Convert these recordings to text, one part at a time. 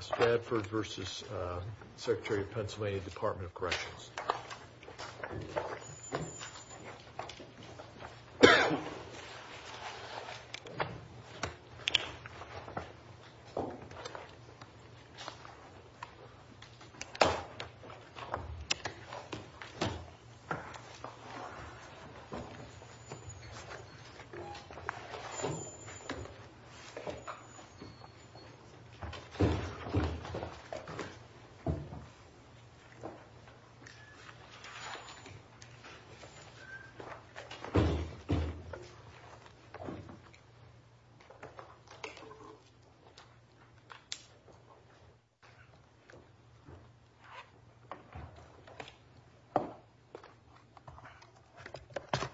Stadford v. Secretary of Pennsylvania Department of Corrections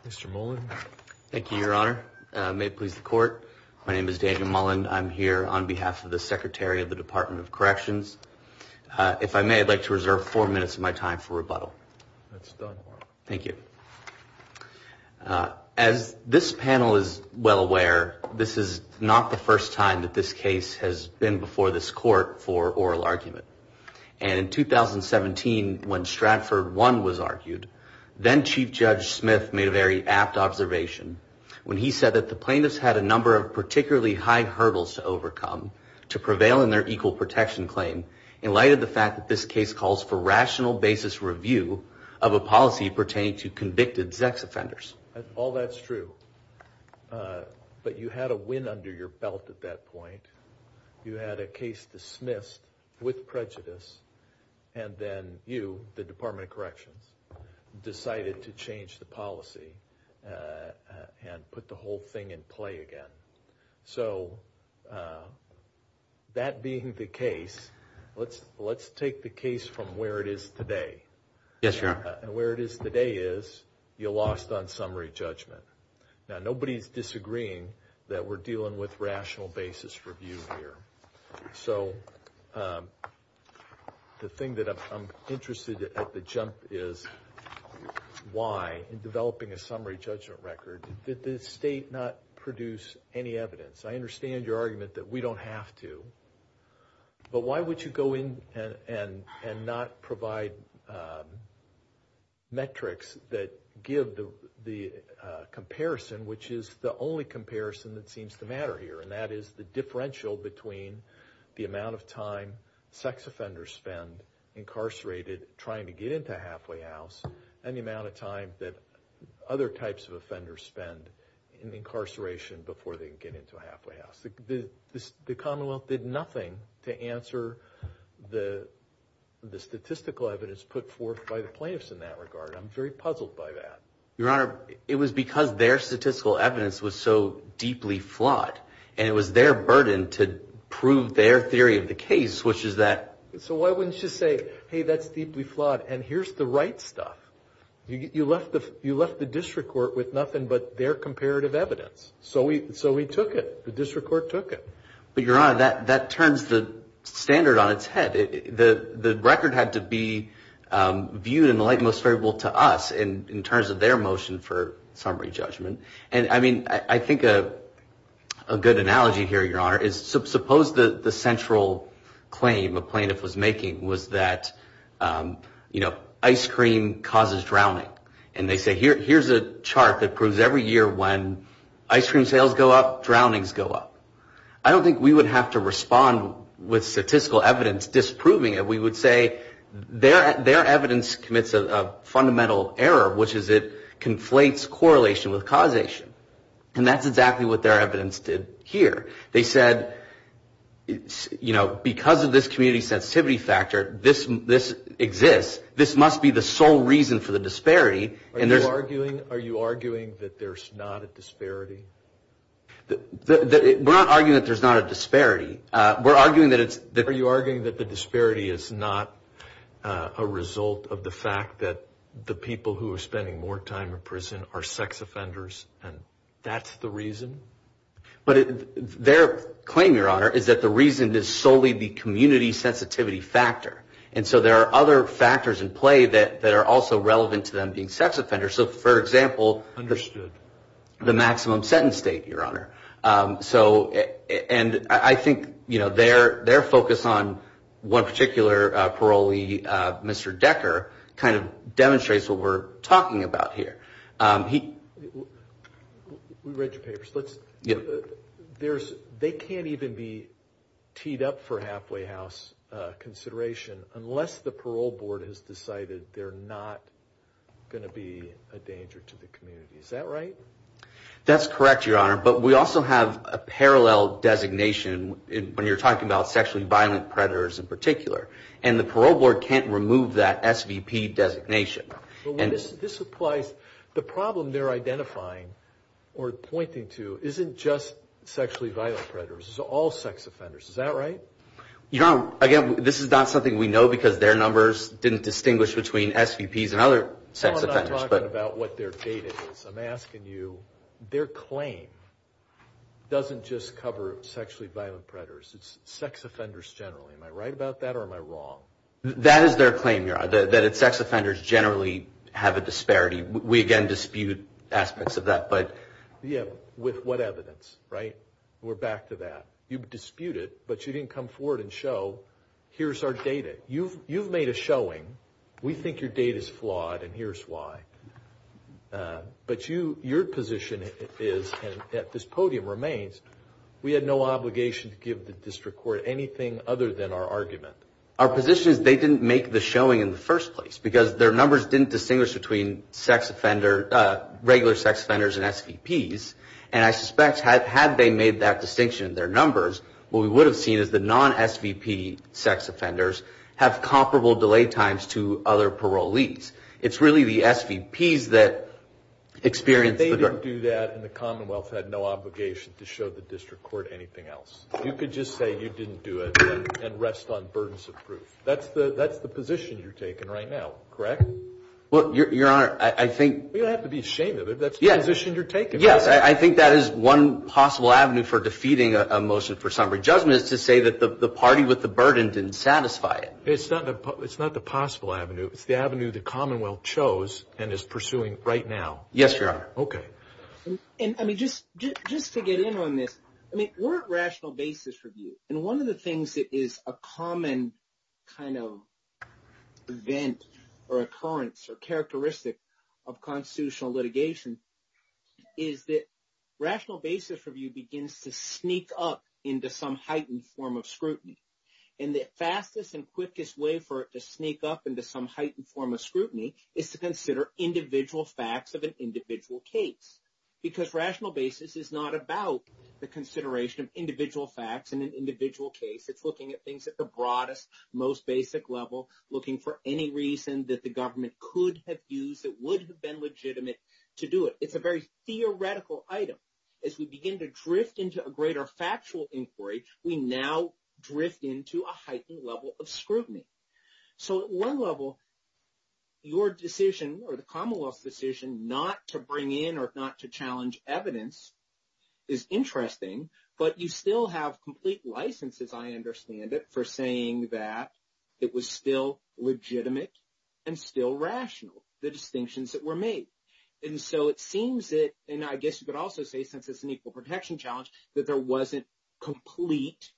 Mr. Mullen Thank you, your honor. May it please the court. My name is Daniel Mullen. I'm here on behalf of the Secretary of the Department of Corrections. If I may, I'd like to reserve four minutes of my time for rebuttal. Thank you. As this panel is well aware, this is not the first time that this case has been before this court for oral argument. In 2017, when Stradford 1 was argued, then Chief Judge Smith made a very apt observation when he number of particularly high hurdles to overcome to prevail in their equal protection claim in light of the fact that this case calls for rational basis review of a policy pertaining to convicted sex offenders. All that's true. But you had a win under your belt at that point. You had a case dismissed with prejudice. And then you, the Department of Corrections, decided to change the policy and put the whole thing in play again. So that being the case, let's take the case from where it is today. Chief Judge Smith Yes, your honor. Mr. Mullen And where it is today is you lost on summary judgment. Now, nobody's disagreeing that we're dealing with rational is why, in developing a summary judgment record, did the state not produce any evidence? I understand your argument that we don't have to. But why would you go in and not provide metrics that give the comparison, which is the only comparison that seems to matter here, and that is the differential between the amount of time sex offenders spend incarcerated trying to get into a halfway house and the amount of time that other types of offenders spend in incarceration before they can get into a halfway house? The Commonwealth did nothing to answer the statistical evidence put forth by the plaintiffs in that regard. I'm very puzzled by that. Chief Judge Smith Your honor, it was because their statistical evidence was so deeply flawed. And it was their burden to prove their theory of the case, which is that... Mr. Mullen So why wouldn't you say, hey, that's deeply flawed, and here's the right stuff? You left the district court with nothing but their comparative evidence. So we took it. The district court took it. Chief Judge Smith But your honor, that turns the standard on its head. The record had to be viewed in the light most favorable to us in terms of their motion for summary judgment. And I mean, I think a good analogy here, your honor, is suppose the central claim a plaintiff was making was that, you know, ice cream causes drowning. And they say, here's a chart that proves every year when ice cream sales go up, drownings go up. I don't think we would have to respond with statistical evidence disproving it. We would say their evidence commits a fundamental error, which is it conflates correlation with causation. And that's exactly what their evidence did here. They said, you know, because of this community sensitivity factor, this exists. This must be the sole reason for the disparity. Mr. Mullen Are you arguing that there's not a disparity? Chief Judge Smith We're not arguing that there's not a disparity. Mr. Mullen Are you arguing that the disparity is not a result of the fact that the people who are spending more time in prison are sex offenders and that's the reason? Chief Judge Smith But their claim, your honor, is that the reason is solely the community sensitivity factor. And so there are other factors in play that are also relevant to them being sex offenders. So, for example, the maximum sentence state, your honor. So and I think, you know, their focus on one particular parolee, Mr. Decker, kind of demonstrates what we're talking about here. We read your papers. They can't even be teed up for halfway house consideration unless the parole board has decided they're not going to be a danger to the community. Is that right? Chief Judge Smith That's correct, your honor. But we also have a parallel designation when you're talking about sexually violent predators in particular. And the parole board can't remove that SVP designation. And this applies, the problem they're identifying or pointing to isn't just sexually violent predators. It's all sex offenders. Is that right? Mr. Decker You know, again, this is not something we know because their numbers didn't distinguish between SVPs and other sex offenders. Chief Judge Smith I'm not talking about what their data is. I'm asking you, their claim doesn't just cover sexually violent predators. It's sex offenders generally. Am I right about that or am I wrong? Mr. Decker That is their claim, that sex offenders generally have a disparity. We, again, dispute aspects of that. Chief Judge Smith Yeah, with what evidence, right? We're back to that. You've disputed, but you didn't come forward and show, here's our data. You've made a showing. We think your data is flawed, and here's why. But your position is, and at this podium remains, we had no obligation to give the district court anything other than our argument. Mr. Decker Our position is they didn't make the showing in the first place because their numbers didn't distinguish between sex offender, regular sex offenders and SVPs. And I suspect had they made that distinction in their numbers, what we would have seen is the non-SVP sex offenders have comparable delay times to other parolees. It's really the SVPs that experience the- Chief Judge Smith They didn't do that, and the Commonwealth had no obligation to show the district court anything else. You could just say you didn't do it and rest on burdens of proof. That's the position you're taking right now, correct? We don't have to be ashamed of it. That's the position you're taking. Mr. Decker Yes, I think that is one possible avenue for defeating a motion for summary judgment is to say that the party with the burden didn't satisfy it. Chief Judge Smith It's not the possible avenue. It's the avenue the Commonwealth chose and is pursuing right now. Mr. Decker Yes, Your Honor. Chief Judge Smith Okay. Rational basis review. And one of the things that is a common kind of event or occurrence or characteristic of constitutional litigation is that rational basis review begins to sneak up into some heightened form of scrutiny. And the fastest and quickest way for it to sneak up into some heightened form of scrutiny is to consider individual facts of an individual case. Because rational basis is not about the consideration of individual facts in an individual case. It's looking at things at the broadest, most basic level, looking for any reason that the government could have used that would have been legitimate to do it. It's a very theoretical item. As we begin to drift into a greater factual inquiry, we now drift into a heightened level of scrutiny. So at one level, your decision or the Commonwealth's decision not to bring in or not to challenge evidence is interesting, but you still have complete licenses, I understand it, for saying that it was still legitimate and still rational, the distinctions that were made. And so it seems that, and I guess you could also say since it's an equal protection challenge, that there wasn't complete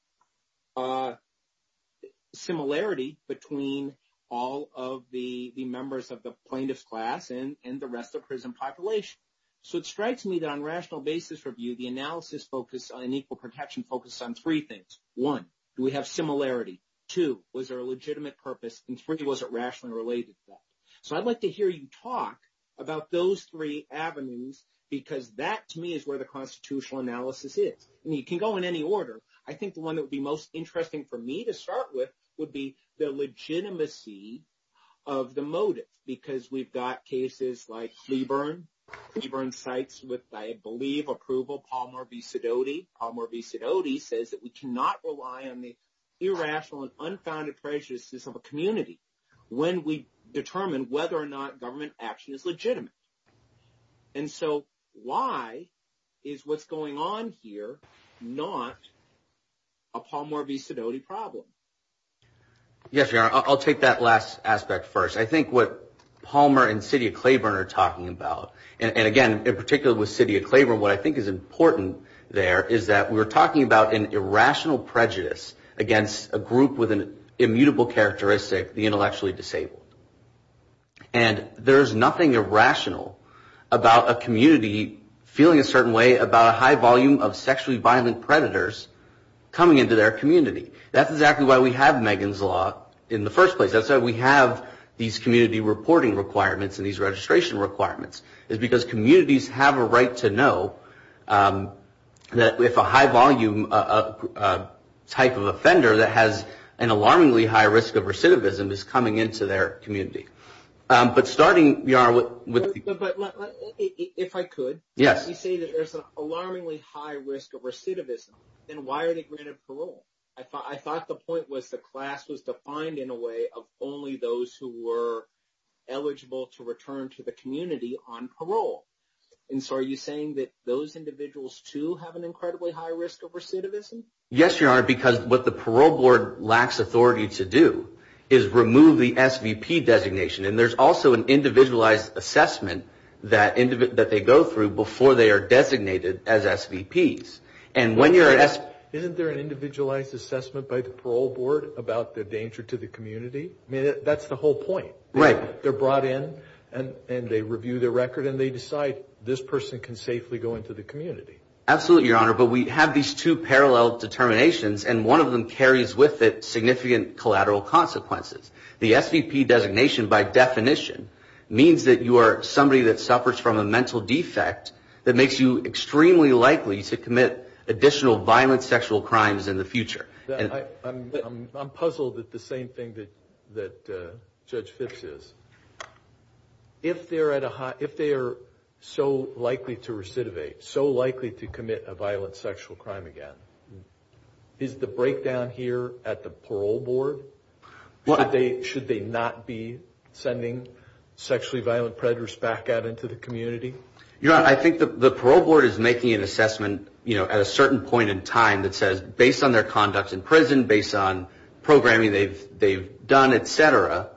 similarity between all of the members of the plaintiff's class and the rest of prison population. So it strikes me that on rational basis review, the analysis focus on equal protection focus on three things. One, do we have similarity? Two, was there a legitimate purpose? And three, was it rationally related to that? So I'd like to hear you talk about those three avenues, because that to me is where the constitutional analysis is. And you can go in any order. I think the one that would be most interesting for me to start with would be the legitimacy of the motive, because we've got cases like Cleburne. Cleburne cites with, I believe, approval, Palmer v. Sidoti. Palmer v. Sidoti says that we cannot rely on the irrational and unfounded prejudices of a community when we determine whether or not government action is legitimate. And so why is what's going on here not a Palmer v. Sidoti problem? Yes, Your Honor, I'll take that last aspect first. I think what Palmer and Sidoti of Cleburne are talking about, and again, in particular with Sidoti of Cleburne, what I think is important there is that we're talking about an irrational prejudice against a group with an immutable characteristic, the intellectually disabled. And there's nothing irrational about a community feeling a certain way about a high volume of sexually violent predators coming into their community. That's why we have Megan's Law in the first place. That's why we have these community reporting requirements and these registration requirements, is because communities have a right to know that if a high volume type of offender that has an alarmingly high risk of recidivism is coming into their community. But starting, Your Honor, if I could, you say that there's an alarmingly high risk of recidivism, then why are they granted parole? I thought the point was the class was defined in a way of only those who were eligible to return to the community on parole. And so are you saying that those individuals, too, have an incredibly high risk of recidivism? Yes, Your Honor, because what the parole board lacks authority to do is remove the SVP designation. And there's also an individualized assessment that they go through before they are designated as SVPs. Isn't there an individualized assessment by the parole board about the danger to the community? I mean, that's the whole point. Right. They're brought in and they review the record and they decide this person can safely go into the community. Absolutely, Your Honor. But we have these two parallel determinations and one of them carries with it significant collateral consequences. The SVP designation, by definition, means that you are somebody that suffers from a mental defect that makes you extremely likely to commit additional violent sexual crimes in the future. I'm puzzled at the same thing that Judge Fitz is. If they are so likely to recidivate, so likely to commit a violent sexual crime again, is the breakdown here at the parole board? Should they not be sending sexually violent predators back out into the community? Your Honor, I think the parole board is making an assessment at a certain point in time that says, based on their conduct in prison, based on programming they've done, et cetera,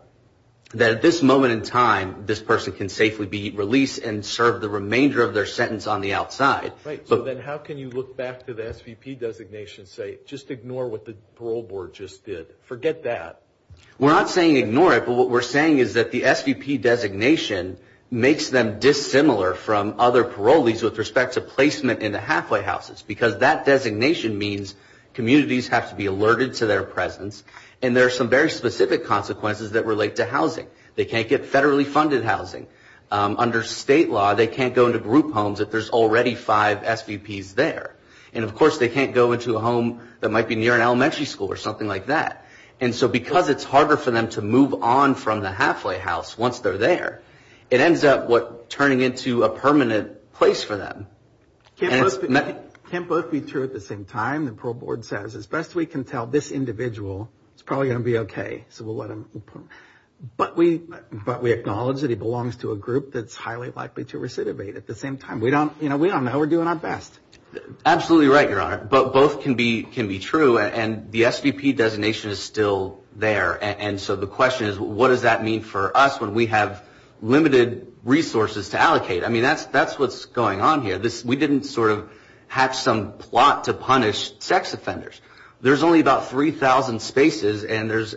that at this moment in time, this person can safely be released and serve the remainder of their sentence on the outside. Right. So then how can you look back to the SVP designation and say, just ignore what the parole board just did? Forget that. We're not saying ignore it, but what we're saying is that the SVP designation makes them dissimilar from other parolees with respect to placement in the halfway houses because that designation means communities have to be alerted to their presence and there are some very specific consequences that relate to housing. They can't get federally funded housing. Under state law, they can't go into group homes if there's already five SVPs there. And of course, they can't go into a home that might be near an elementary school or something like that. And so because it's harder for them to move on from the halfway house once they're there, it ends up turning into a permanent place for them. Can't both be true at the same time. The parole board says, as best we can tell, this individual is probably going to be okay, so we'll let him. But we acknowledge that he belongs to a group that's highly likely to be a parolee and we're doing our best. Absolutely right, Your Honor. But both can be true. And the SVP designation is still there. And so the question is, what does that mean for us when we have limited resources to allocate? I mean, that's what's going on here. We didn't sort of have some plot to punish sex offenders. There's only about 3,000 spaces and there's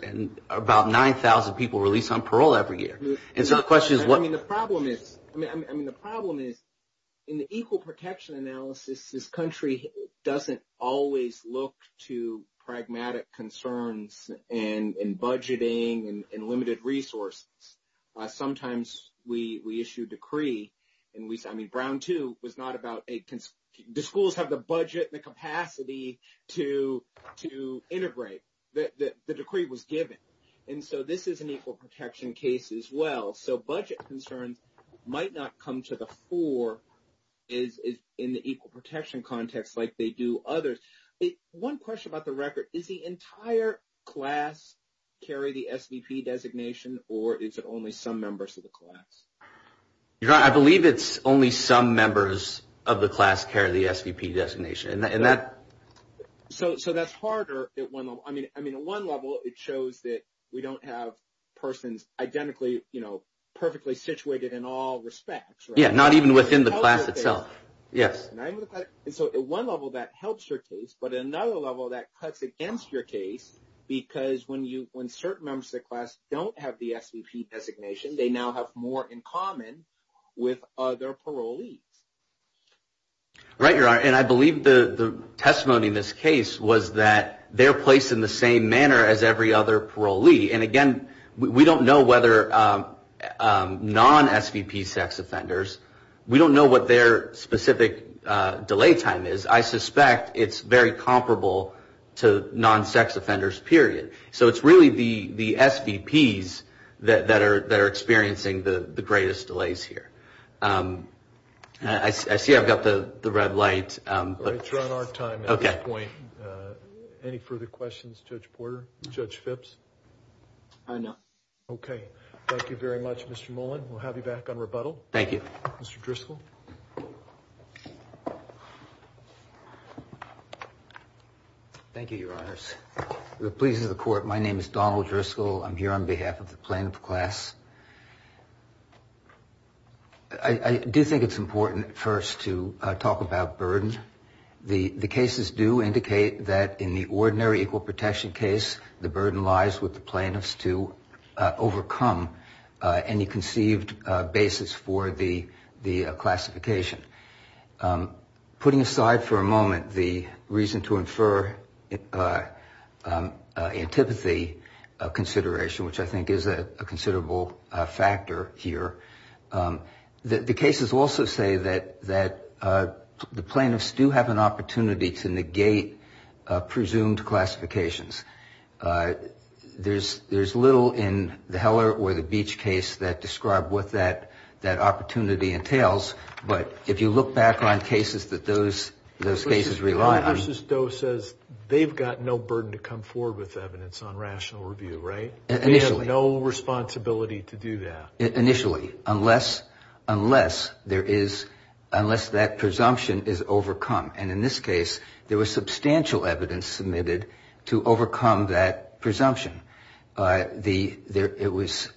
about 9,000 people released on parole every year. And so the question is what... I mean, the problem is in the equal protection analysis, this country doesn't always look to pragmatic concerns and budgeting and limited resources. Sometimes we issue decree and we say, I mean, Brown 2 was not about a... Do schools have the budget, the capacity to integrate? The decree was given. And so this is an equal protection case as well. So budget concerns might not come to the fore in the equal protection context like they do others. One question about the record, is the entire class carry the SVP designation or is it only some members of the class? Your Honor, I believe it's only some members of the class carry the SVP designation. And that... So that's harder at one level. I mean, at one level it shows that we don't have persons identically perfectly situated in all respects, right? Yeah, not even within the class itself. Yes. And so at one level that helps your case, but at another level that cuts against your case because when certain members of the class don't have the SVP designation, they now have more in the class. And so the testimony in this case was that they're placed in the same manner as every other parolee. And again, we don't know whether non-SVP sex offenders, we don't know what their specific delay time is. I suspect it's very comparable to non-sex offenders period. So it's really the SVPs that are experiencing the greatest delays here. I see I've got the red light. All right, we're on our time at this point. Any further questions, Judge Porter, Judge Phipps? No. Okay. Thank you very much, Mr. Mullen. We'll have you back on rebuttal. Thank you. Mr. Driscoll. Thank you, Your Honors. The pleas of the court, my name is Donald Driscoll. I'm here on behalf of the plaintiff class. I do think it's important first to talk about burden. The cases do indicate that in the ordinary equal protection case, the burden lies with the plaintiffs to overcome any conceived basis for the classification. Putting aside for a moment the reason to infer antipathy consideration, which I think is a considerable factor here, the cases also say that the plaintiffs do have an opportunity to negate presumed classifications. There's little in the Heller or the Beach case that describe what that opportunity entails, but if you look back on cases that those cases rely on- Justice Doe says they've got no burden to come forward with evidence on rational review, right? Initially. They have no responsibility to do that. Initially, unless that presumption is overcome. And in this case, there was substantial evidence submitted to overcome that presumption. It was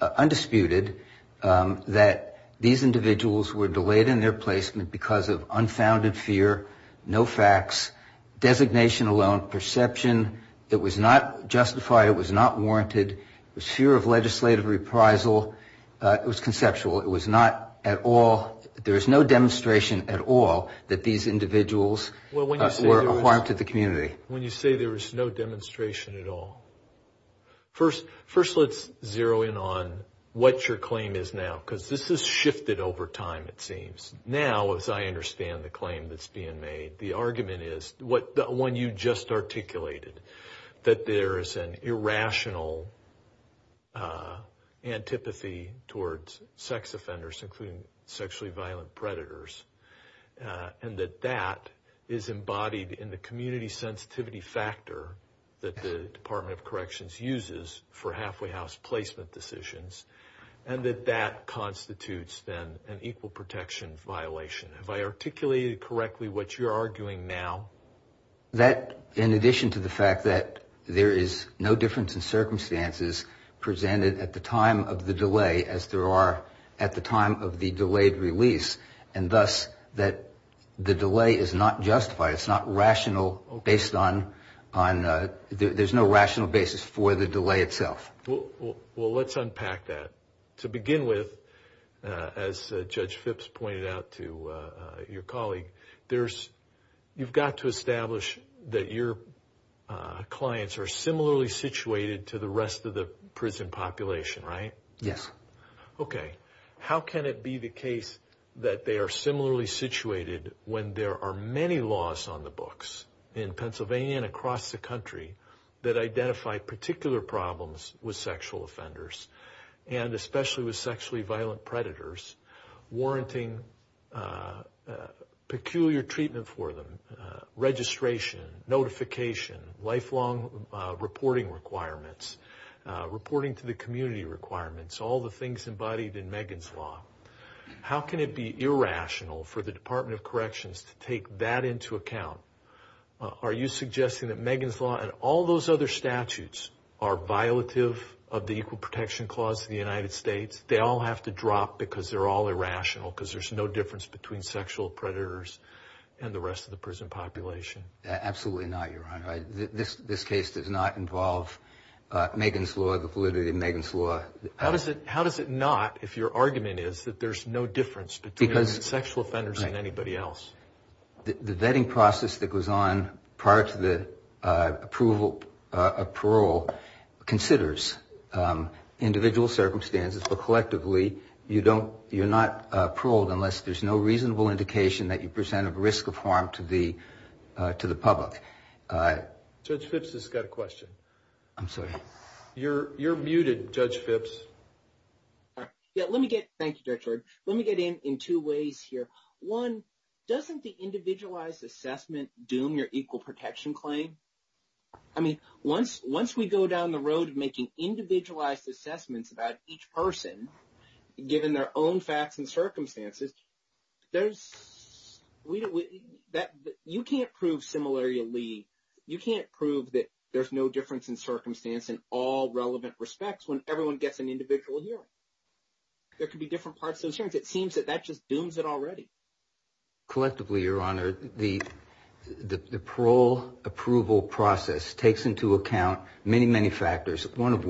undisputed that these individuals were delayed in their placement because of unfounded fear, no facts, designation alone, perception that was not justified, it was not warranted, was fear of legislative reprisal. It was conceptual. It was not at all, there is no demonstration at all that these individuals- Were a harm to the community. When you say there was no demonstration at all. First, let's zero in on what your claim is now, because this has shifted over time, it seems. Now, as I understand the claim that's being made, the argument is, the one you just articulated, that there is an irrational antipathy towards sex offenders, including sexually violent predators, and that that is embodied in the community sensitivity factor that the Department of Corrections uses for halfway house placement decisions, and that that constitutes then an equal protection violation. Have I articulated correctly what you're arguing now? That, in addition to the fact that there is no difference in circumstances presented at the time of the delay, as there are at the time of the delayed release, and thus that the delay is not justified, it's not rational based on, there's no rational basis for the delay itself. Well, let's unpack that. To begin with, as Judge Phipps pointed out to your colleague, you've got to establish that your cases are similarly situated to the rest of the prison population, right? Yes. Okay. How can it be the case that they are similarly situated when there are many laws on the books in Pennsylvania and across the country that identify particular problems with sexual offenders, and especially with sexually violent predators, warranting peculiar treatment for them, registration, notification, lifelong reporting requirements, reporting to the community requirements, all the things embodied in Megan's Law? How can it be irrational for the Department of Corrections to take that into account? Are you suggesting that Megan's Law and all those other statutes are violative of the Equal Protection Clause of the United States? They all have to drop because they're all irrational, because there's no difference between sexual predators and the rest of the prison population. Absolutely not, Your Honor. This case does not involve Megan's Law, the validity of Megan's Law. How does it not, if your argument is that there's no difference between sexual offenders and anybody else? The vetting process that goes on prior to the approval of parole considers individual circumstances, but collectively you're not paroled unless there's no reasonable indication that you present a risk of harm to the public. Judge Phipps has got a question. I'm sorry. You're muted, Judge Phipps. Yeah, let me get, thank you, Judge Lord. Let me get in in two ways here. One, doesn't the individualized assessment doom your Equal Protection Claim? I mean, once we go down the road of making individualized assessments about each person, given their own facts and circumstances, you can't prove similarly, you can't prove that there's no difference in circumstance in all relevant respects when everyone gets an individual hearing. There could be different parts of those hearings. It seems that that just dooms it already. Collectively, Your Honor, the of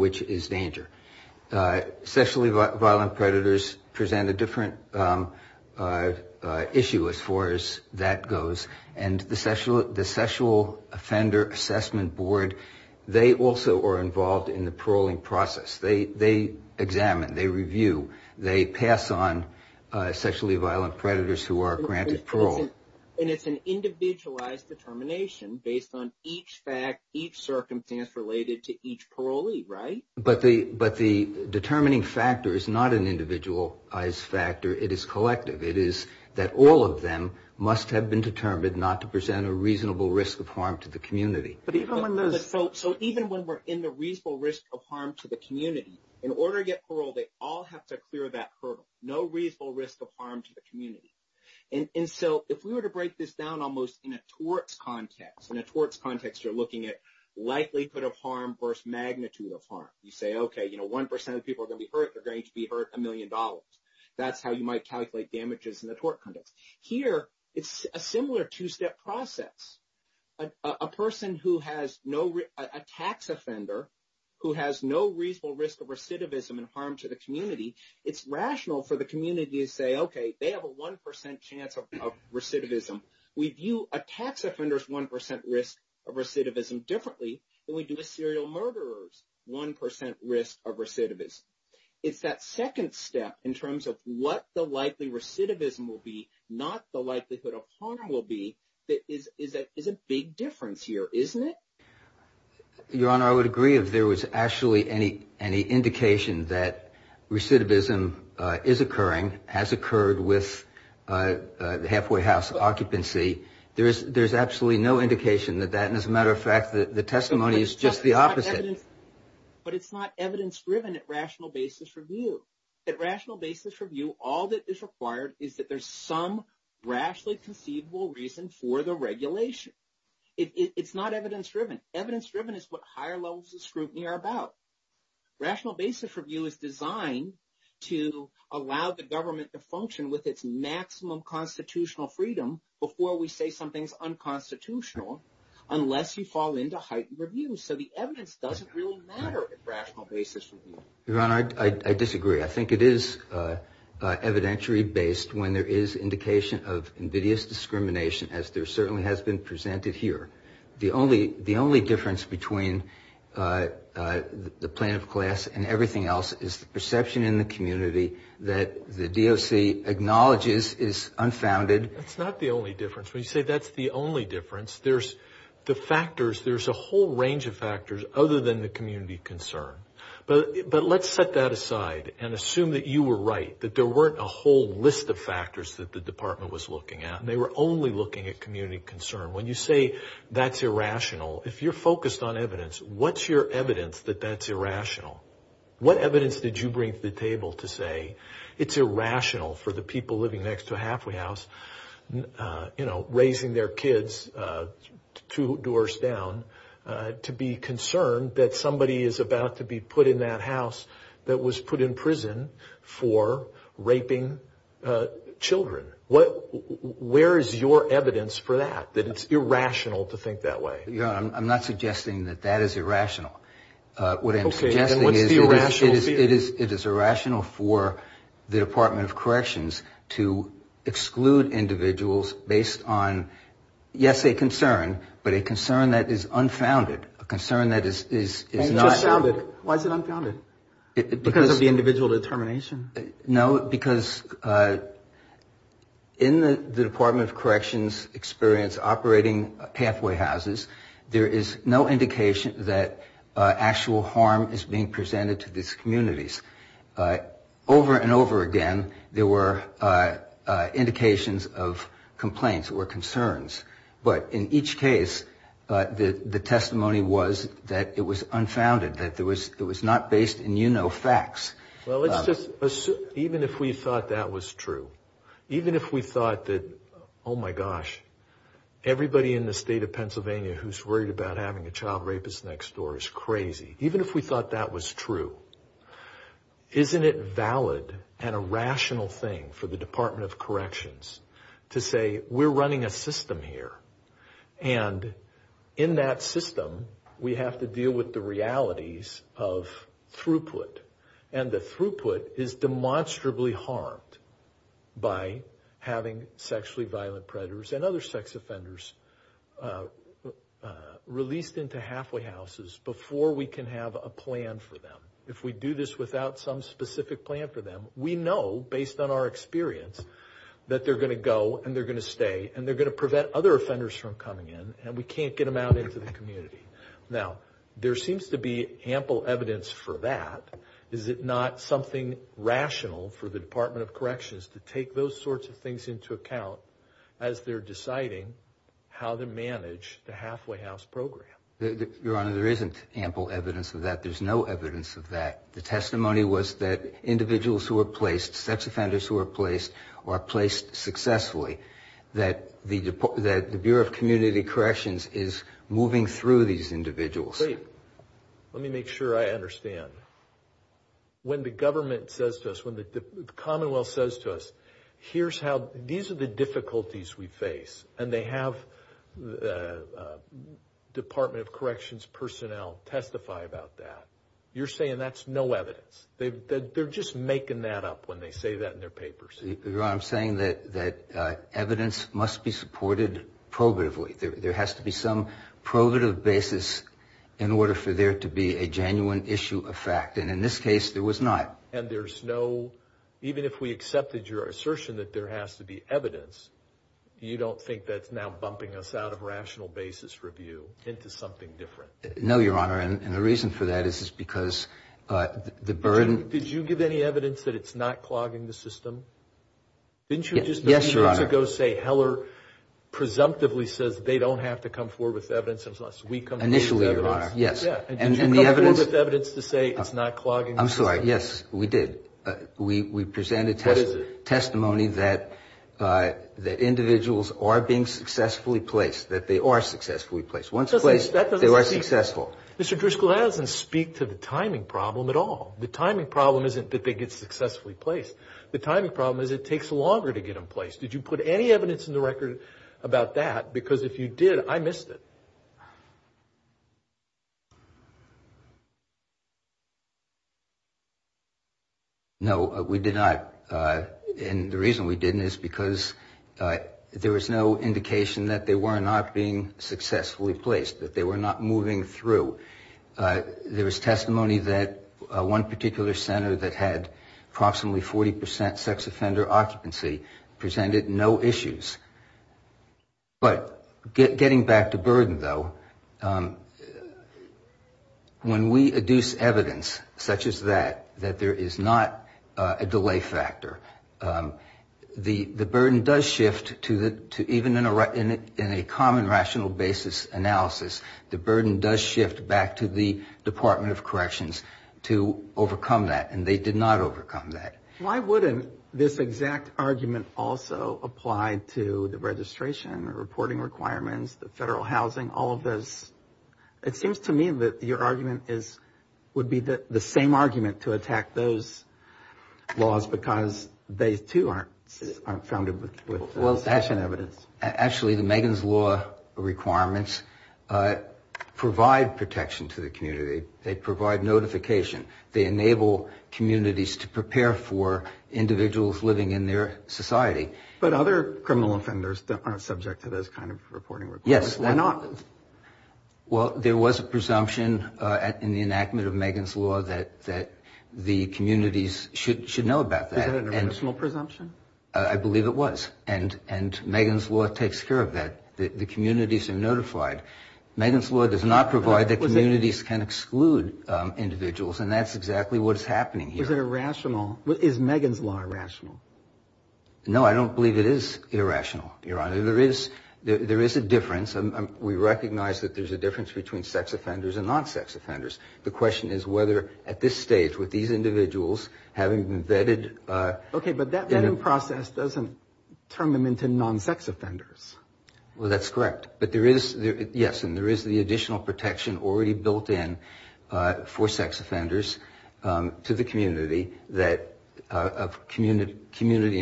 which is danger. Sexually violent predators present a different issue as far as that goes, and the Sexual Offender Assessment Board, they also are involved in the paroling process. They examine, they review, they pass on sexually violent predators who are granted parole. And it's an individualized determination based on each fact, each circumstance related to each parolee, right? But the determining factor is not an individualized factor. It is collective. It is that all of them must have been determined not to present a reasonable risk of harm to the community. But even when those... So even when we're in the reasonable risk of harm to the community, in order to get parole, they all have to clear that hurdle. No reasonable risk of harm to the community. And so if we were to break this down almost in a torts context, in a torts of harm. You say, okay, 1% of the people are going to be hurt, they're going to be hurt a million dollars. That's how you might calculate damages in the tort context. Here, it's a similar two-step process. A person who has no... A tax offender who has no reasonable risk of recidivism and harm to the community, it's rational for the community to say, okay, they have a 1% chance of recidivism. We view a tax offender's 1% risk of recidivism differently than we do a serial murderer's 1% risk of recidivism. It's that second step in terms of what the likely recidivism will be, not the likelihood of harm will be, that is a big difference here, isn't it? Your Honor, I would agree if there was actually any indication that recidivism is occurring, has occurred with the halfway house occupancy. There's absolutely no indication that that, and as a matter of fact, the testimony is just the opposite. But it's not evidence-driven at rational basis review. At rational basis review, all that is required is that there's some rationally conceivable reason for the regulation. It's not evidence-driven. Evidence-driven is what higher levels of scrutiny are about. Rational basis review is designed to allow the government to function with its maximum constitutional freedom before we say something's unconstitutional, unless you fall into heightened review. So the evidence doesn't really matter at rational basis review. Your Honor, I disagree. I think it is evidentiary-based when there is indication of invidious discrimination, as there certainly has been presented here. The only difference between the plaintiff class and everything else is the perception in the community that the DOC acknowledges is unfounded. That's not the only difference. When you say that's the only difference, there's the factors, there's a whole range of factors other than the community concern. But let's set that aside and assume that you were right, that there weren't a whole list of factors that the department was looking at, and they were only looking at community concern. When you say that's irrational, if you're focused on evidence, what's your evidence that that's irrational? What evidence did you bring to the table to say it's irrational for the people living next to a halfway house, you know, raising their kids two doors down, to be concerned that somebody is about to be put in that house that was put in prison for raping children? Where is your evidence for that, that it's irrational to think that way? You know, I'm not suggesting that that is irrational. What I'm suggesting is it is irrational for the Department of Corrections to exclude individuals based on, yes, a concern, but a concern that is unfounded, a concern that is not... Why is it unfounded? Because of the individual determination? No, because in the Department of Corrections experience operating halfway houses, there is no indication that actual harm is being presented to these communities. Over and over again, there were indications of complaints or concerns, but in each case, the testimony was that it was unfounded, that it was not based in, you know, facts. Well, let's just assume, even if we thought that was true, even if we thought that, oh my gosh, everybody in the state of Pennsylvania who's worried about having a child rapist next door is crazy. Even if we thought that was true, isn't it valid and a rational thing for the Department of Corrections to say, we're running a system here, and in that system, we have to deal with the realities of throughput, and the throughput is demonstrably harmed by having sexually violent predators and other sex offenders released into halfway houses before we can have a plan for them. If we do this without some specific plan for them, we know, based on our experience, that they're going to go, and they're going to stay, and they're going to prevent other offenders from coming in, and we can't get them out into the community. Now, there seems to be ample evidence for that. Is it not something rational for the Department of Corrections to take those sorts of things into account as they're deciding how to manage the halfway house program? Your Honor, there isn't ample evidence of that. There's no evidence of or placed successfully that the Bureau of Community Corrections is moving through these individuals. Wait. Let me make sure I understand. When the government says to us, when the Commonwealth says to us, here's how, these are the difficulties we face, and they have Department of Corrections personnel testify about that, you're saying that's no evidence. They're just making that up when they say that in their papers. Your Honor, I'm saying that evidence must be supported probatively. There has to be some probative basis in order for there to be a genuine issue of fact, and in this case, there was not. And there's no, even if we accepted your assertion that there has to be evidence, you don't think that's now bumping us out of rational basis review into something different? No, Your Honor, and the reason for that is because the burden... Did you give any evidence that it's not clogging the system? Didn't you just a few minutes ago say Heller presumptively says they don't have to come forward with evidence unless we come forward with evidence? Initially, Your Honor, yes. And did you come forward with evidence to say it's not clogging the system? I'm sorry. Yes, we did. We presented testimony that individuals are being successfully placed, that they are successfully Mr. Driscoll, that doesn't speak to the timing problem at all. The timing problem isn't that they get successfully placed. The timing problem is it takes longer to get them placed. Did you put any evidence in the record about that? Because if you did, I missed it. No, we did not. And the reason we didn't is because there was no indication that they were not moving through. There was testimony that one particular center that had approximately 40 percent sex offender occupancy presented no issues. But getting back to burden, though, when we adduce evidence such as that, that there is not a delay factor, the burden does shift to in a common rational basis analysis, the burden does shift back to the Department of Corrections to overcome that. And they did not overcome that. Why wouldn't this exact argument also apply to the registration, the reporting requirements, the federal housing, all of those? It seems to me that your argument would be the same argument to attack those laws because they, too, aren't founded with session evidence. Actually, the Megan's Law requirements provide protection to the community. They provide notification. They enable communities to prepare for individuals living in their society. But other criminal offenders aren't subject to those kind of reporting requirements. Yes. Why not? Well, there was a presumption in the enactment of Megan's Law that the communities should know about that. Is that an original presumption? I believe it was. And Megan's Law takes care of that. The communities are notified. Megan's Law does not provide that communities can exclude individuals. And that's exactly what's happening here. Is it irrational? Is Megan's Law irrational? No, I don't believe it is irrational, Your Honor. There is a difference. We recognize that there's a difference between sex offenders and non-sex offenders. The question is whether, at this stage, with these individuals having been vetted... Okay, but that vetting process doesn't turn them into non-sex offenders. Well, that's correct. But there is, yes, and there is the additional protection already built in for sex offenders to the community of community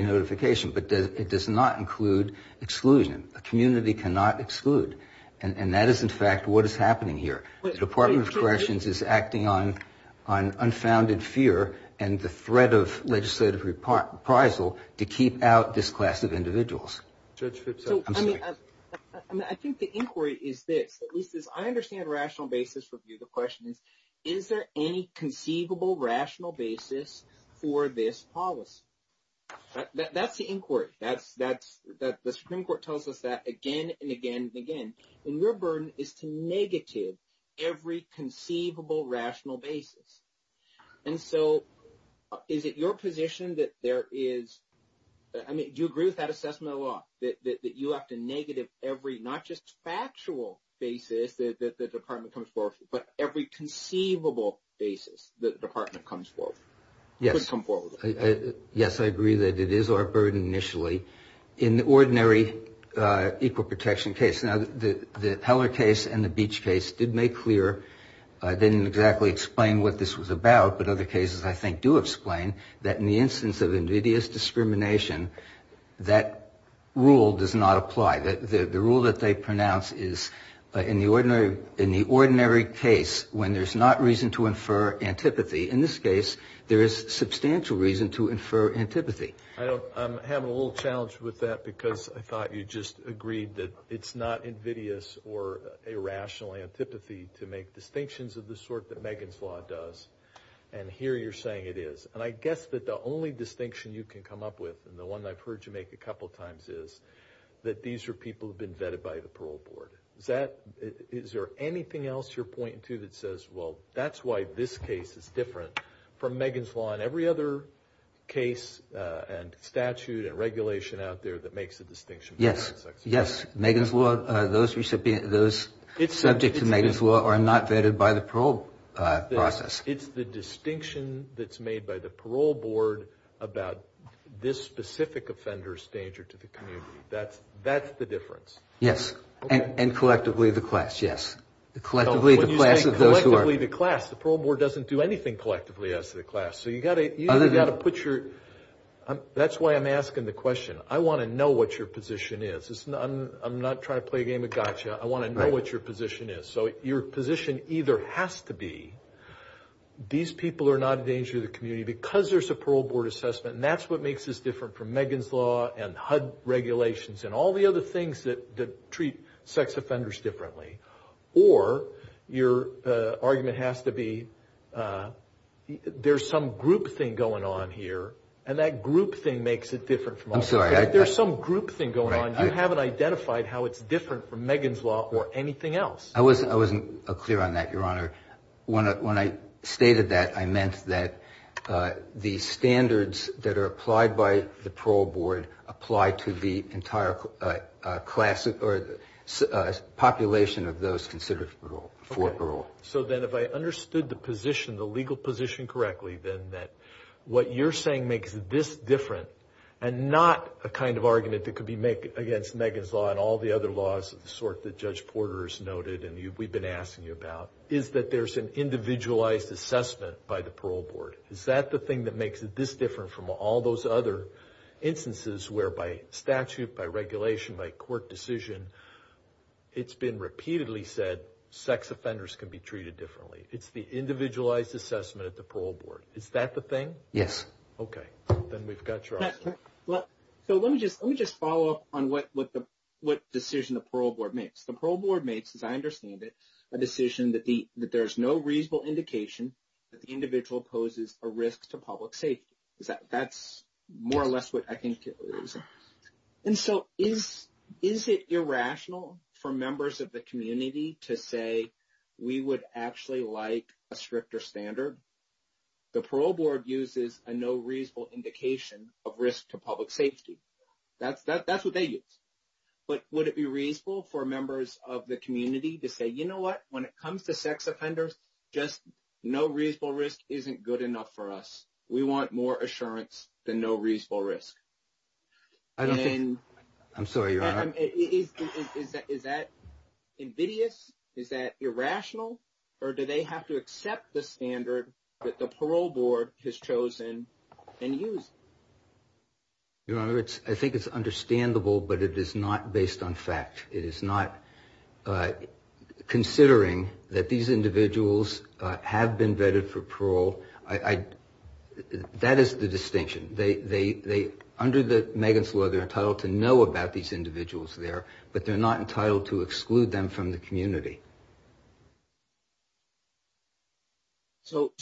notification. But it does not include exclusion. A community cannot exclude. And that is, in fact, what is happening here. The Department of Corrections is acting on unfounded fear and the threat of legislative reprisal to keep out this class of individuals. Judge Phipps, I'm sorry. I think the inquiry is this, at least as I understand rational basis review, the question is, is there any conceivable rational basis for this policy? That's the inquiry. The Supreme Court tells us that again, and again, and again. And your burden is to negative every conceivable rational basis. And so, is it your position that there is... I mean, do you agree with that assessment of the law? That you have to negative every, not just factual basis that the Department comes forth, but every conceivable basis that the Department comes forth? Yes, I agree that it is our burden initially in the ordinary equal protection case. Now, the Heller case and the Beach case did make clear, didn't exactly explain what this was about, but other cases I think do explain that in the instance of invidious discrimination, that rule does not apply. The rule that they pronounce is, in the ordinary case, when there's not reason to infer antipathy, in this case, there is substantial reason to infer antipathy. I'm having a little challenge with that because I thought you just agreed that it's not invidious or irrational antipathy to make distinctions of the sort that Megan's law does. And here you're saying it is. And I guess that the only distinction you can come up with, and the one I've heard you make a couple of times is, that these are people who've been vetted by the parole board. Is there anything else you're pointing to that says, well, that's why this case is different from Megan's law and every other case and statute and regulation out there that makes a distinction? Yes, yes. Megan's law, those subject to Megan's law are not vetted by the parole process. It's the distinction that's made by the parole board about this specific offender's danger to the community. That's the difference. Yes. And the parole board doesn't do anything collectively as to the class. That's why I'm asking the question. I want to know what your position is. I'm not trying to play a game of gotcha. I want to know what your position is. So your position either has to be, these people are not a danger to the community because there's a parole board assessment. And that's what makes this different from Megan's law and HUD regulations and all the other things that treat sex offenders differently. Or your argument has to be, there's some group thing going on here and that group thing makes it different from others. I'm sorry. There's some group thing going on. You haven't identified how it's different from Megan's law or anything else. I wasn't clear on that, your honor. When I stated that, I meant that the standards that are applied by the parole board apply to entire population of those considered for parole. So then if I understood the position, the legal position correctly, then what you're saying makes this different and not a kind of argument that could be made against Megan's law and all the other laws of the sort that Judge Porter has noted and we've been asking you about, is that there's an individualized assessment by the parole board. Is that the thing that makes it this different from all those other instances where by statute, by regulation, by court decision, it's been repeatedly said sex offenders can be treated differently. It's the individualized assessment at the parole board. Is that the thing? Yes. Okay. Then we've got your... So let me just follow up on what decision the parole board makes. The parole board makes, as I understand it, a decision that there's no reasonable indication that the individual poses a risk to public safety. That's more or less what I think it is. And so is it irrational for members of the community to say we would actually like a stricter standard? The parole board uses a no reasonable indication of risk to public safety. That's what they use. But would it be reasonable for members of the community to say, you know what, when it comes to sex offenders, just no reasonable risk isn't good enough for us. We want more assurance than no reasonable risk. I don't think... I'm sorry, Your Honor. Is that invidious? Is that irrational? Or do they have to accept the standard that the parole board has chosen and used? Your Honor, I think it's understandable, but it is not based on fact. It is not considering that these individuals have been vetted for parole. That is the distinction. Under the Megan's Law, they're entitled to know about these individuals there, but they're not entitled to exclude them from the community. So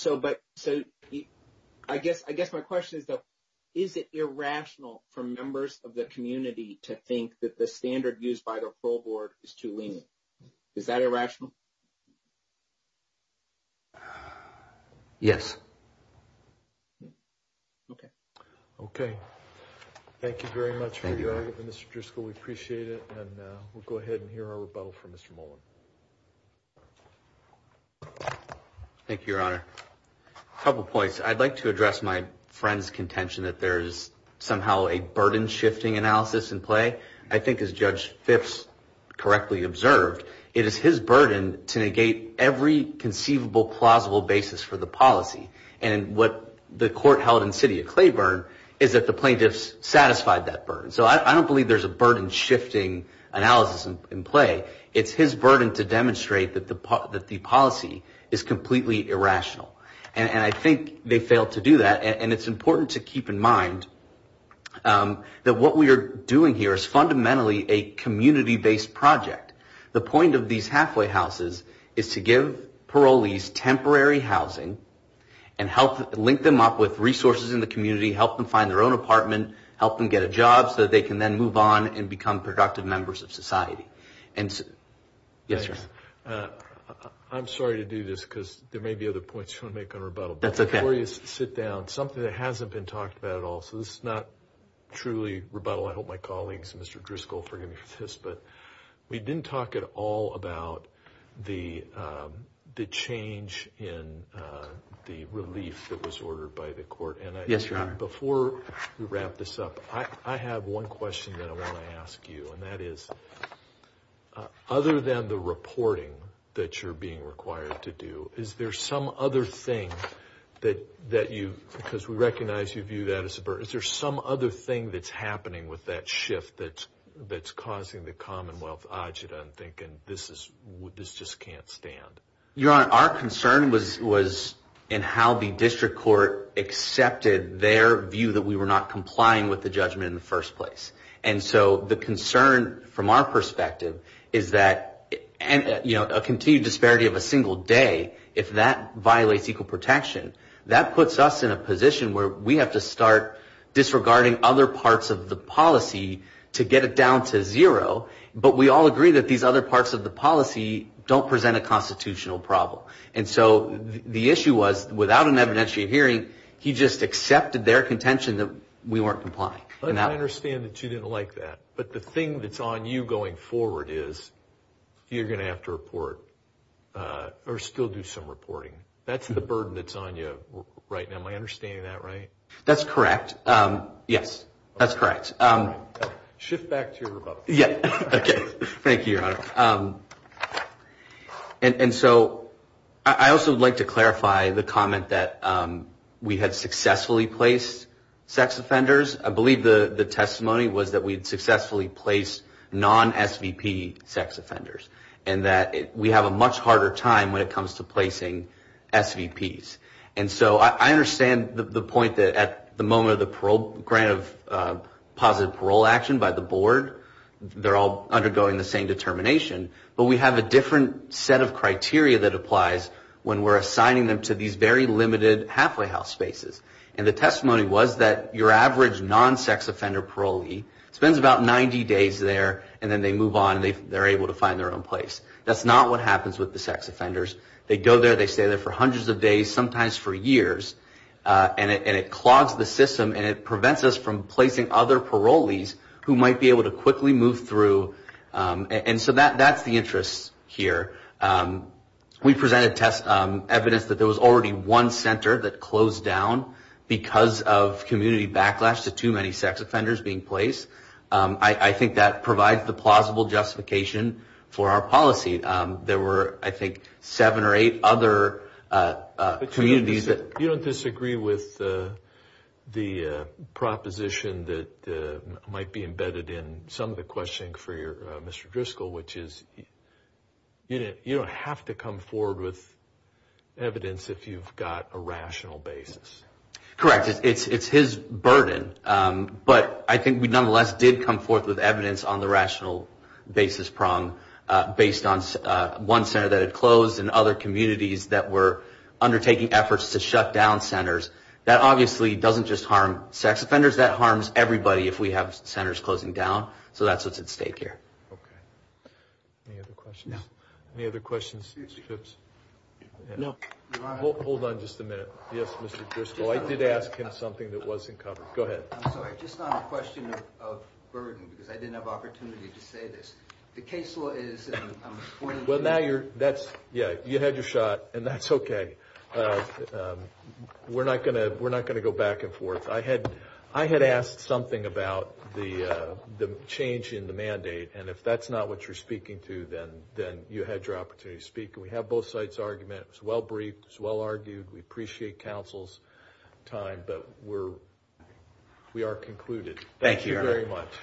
I guess my question is, is it irrational for members of the community to think that the standard used by the parole board is too lenient? Is that irrational? Yes. Okay. Okay. Thank you very much, Mr. Driscoll. We appreciate it. And we'll go ahead and hear our rebuttal from Mr. Mullen. Thank you, Your Honor. A couple points. I'd like to address my friend's contention that there's somehow a burden-shifting analysis in play. I think as Judge Phipps correctly observed, it is his burden to negate every conceivable, plausible basis for the policy. And what the court held in the city of Claiborne is that the plaintiffs satisfied that burden. So I don't believe there's a burden-shifting analysis in play. It's his burden to demonstrate that the policy is completely irrational. And I think they failed to do that. And it's important to keep in mind that what we are doing here is fundamentally a community-based project. The point of these halfway houses is to give parolees temporary housing and link them up with resources in the community, help them find their own apartment, help them get a job so that they can then move on and become productive members of society. Yes, Your Honor. I'm sorry to do this because there may be other points you want to make on rebuttal. That's okay. But before you sit down, something that hasn't been talked about at all, so this is not truly rebuttal. I hope my colleagues, Mr. Driscoll, forgive me for this, but we didn't talk at all about the change in the relief that was ordered by the court. Yes, Your Honor. Before we wrap this up, I have one question that I want to ask you, and that is, other than the reporting that you're being required to do, is there some other thing that you, because we recognize you view that as a burden, is there some other thing that's happening with that shift that's causing the Commonwealth, Ajita, and thinking this just can't stand? Your Honor, our concern was in how the district court accepted their view that we were not complying with the judgment in the first place. And so the concern from our perspective is that a continued disparity of a single day, if that violates equal protection, that puts us in a position where we have to start disregarding other parts of the policy to get it down to zero, but we all agree that these other parts of the policy don't present a constitutional problem. And so the issue was, without an evidentiary hearing, he just accepted their contention that we weren't complying. I understand that you didn't like that, but the thing that's on you going forward is, you're going to have to report, or still do some reporting. That's the burden that's on you right now. Am I understanding that right? That's correct. Yes, that's correct. Shift back to your rebuttal. Yeah, okay. Thank you, Your Honor. And so I also would like to clarify the comment that we had successfully placed sex offenders. I believe the testimony was that we had successfully placed non-SVP sex offenders, and that we have a much harder time when it comes to placing SVPs. And so I understand the point that at the moment of the parole, grant of positive parole action by the board, they're all undergoing the same determination, but we have a different set of criteria that apply. And so the testimony was that your average non-sex offender parolee spends about 90 days there, and then they move on, and they're able to find their own place. That's not what happens with the sex offenders. They go there, they stay there for hundreds of days, sometimes for years, and it clogs the system, and it prevents us from placing other parolees who might be able to quickly move through. And so that's the interest here. We presented evidence that there was already one center that closed down because of community backlash to too many sex offenders being placed. I think that provides the plausible justification for our policy. There were, I think, seven or eight other communities that... But you don't disagree with the proposition that might be embedded in some of the questioning for Mr. Driscoll, which is you don't have to come forward with evidence if you've got a rational basis. Correct. It's his burden, but I think we nonetheless did come forth with evidence on the rational basis prong based on one center that had closed and other communities that were undertaking efforts to shut down centers. That obviously doesn't just harm sex offenders, that harms everybody if we have centers closing down. So that's what's at stake here. Okay. Any other questions? No. Any other questions, Mr. Phipps? No. Hold on just a minute. Yes, Mr. Driscoll. I did ask him something that wasn't covered. Go ahead. I'm sorry, just on the question of burden, because I didn't have opportunity to say this. The case law is... Well, now you're... That's... Yeah, you had your shot, and that's okay. We're not going to go back and forth. I had asked something about the change in the mandate, and if that's not what you're speaking to, then you had your opportunity to speak, and we have both sides' argument. It was well-briefed, it was well-argued. We appreciate counsel's time, but we are concluded. Thank you very much.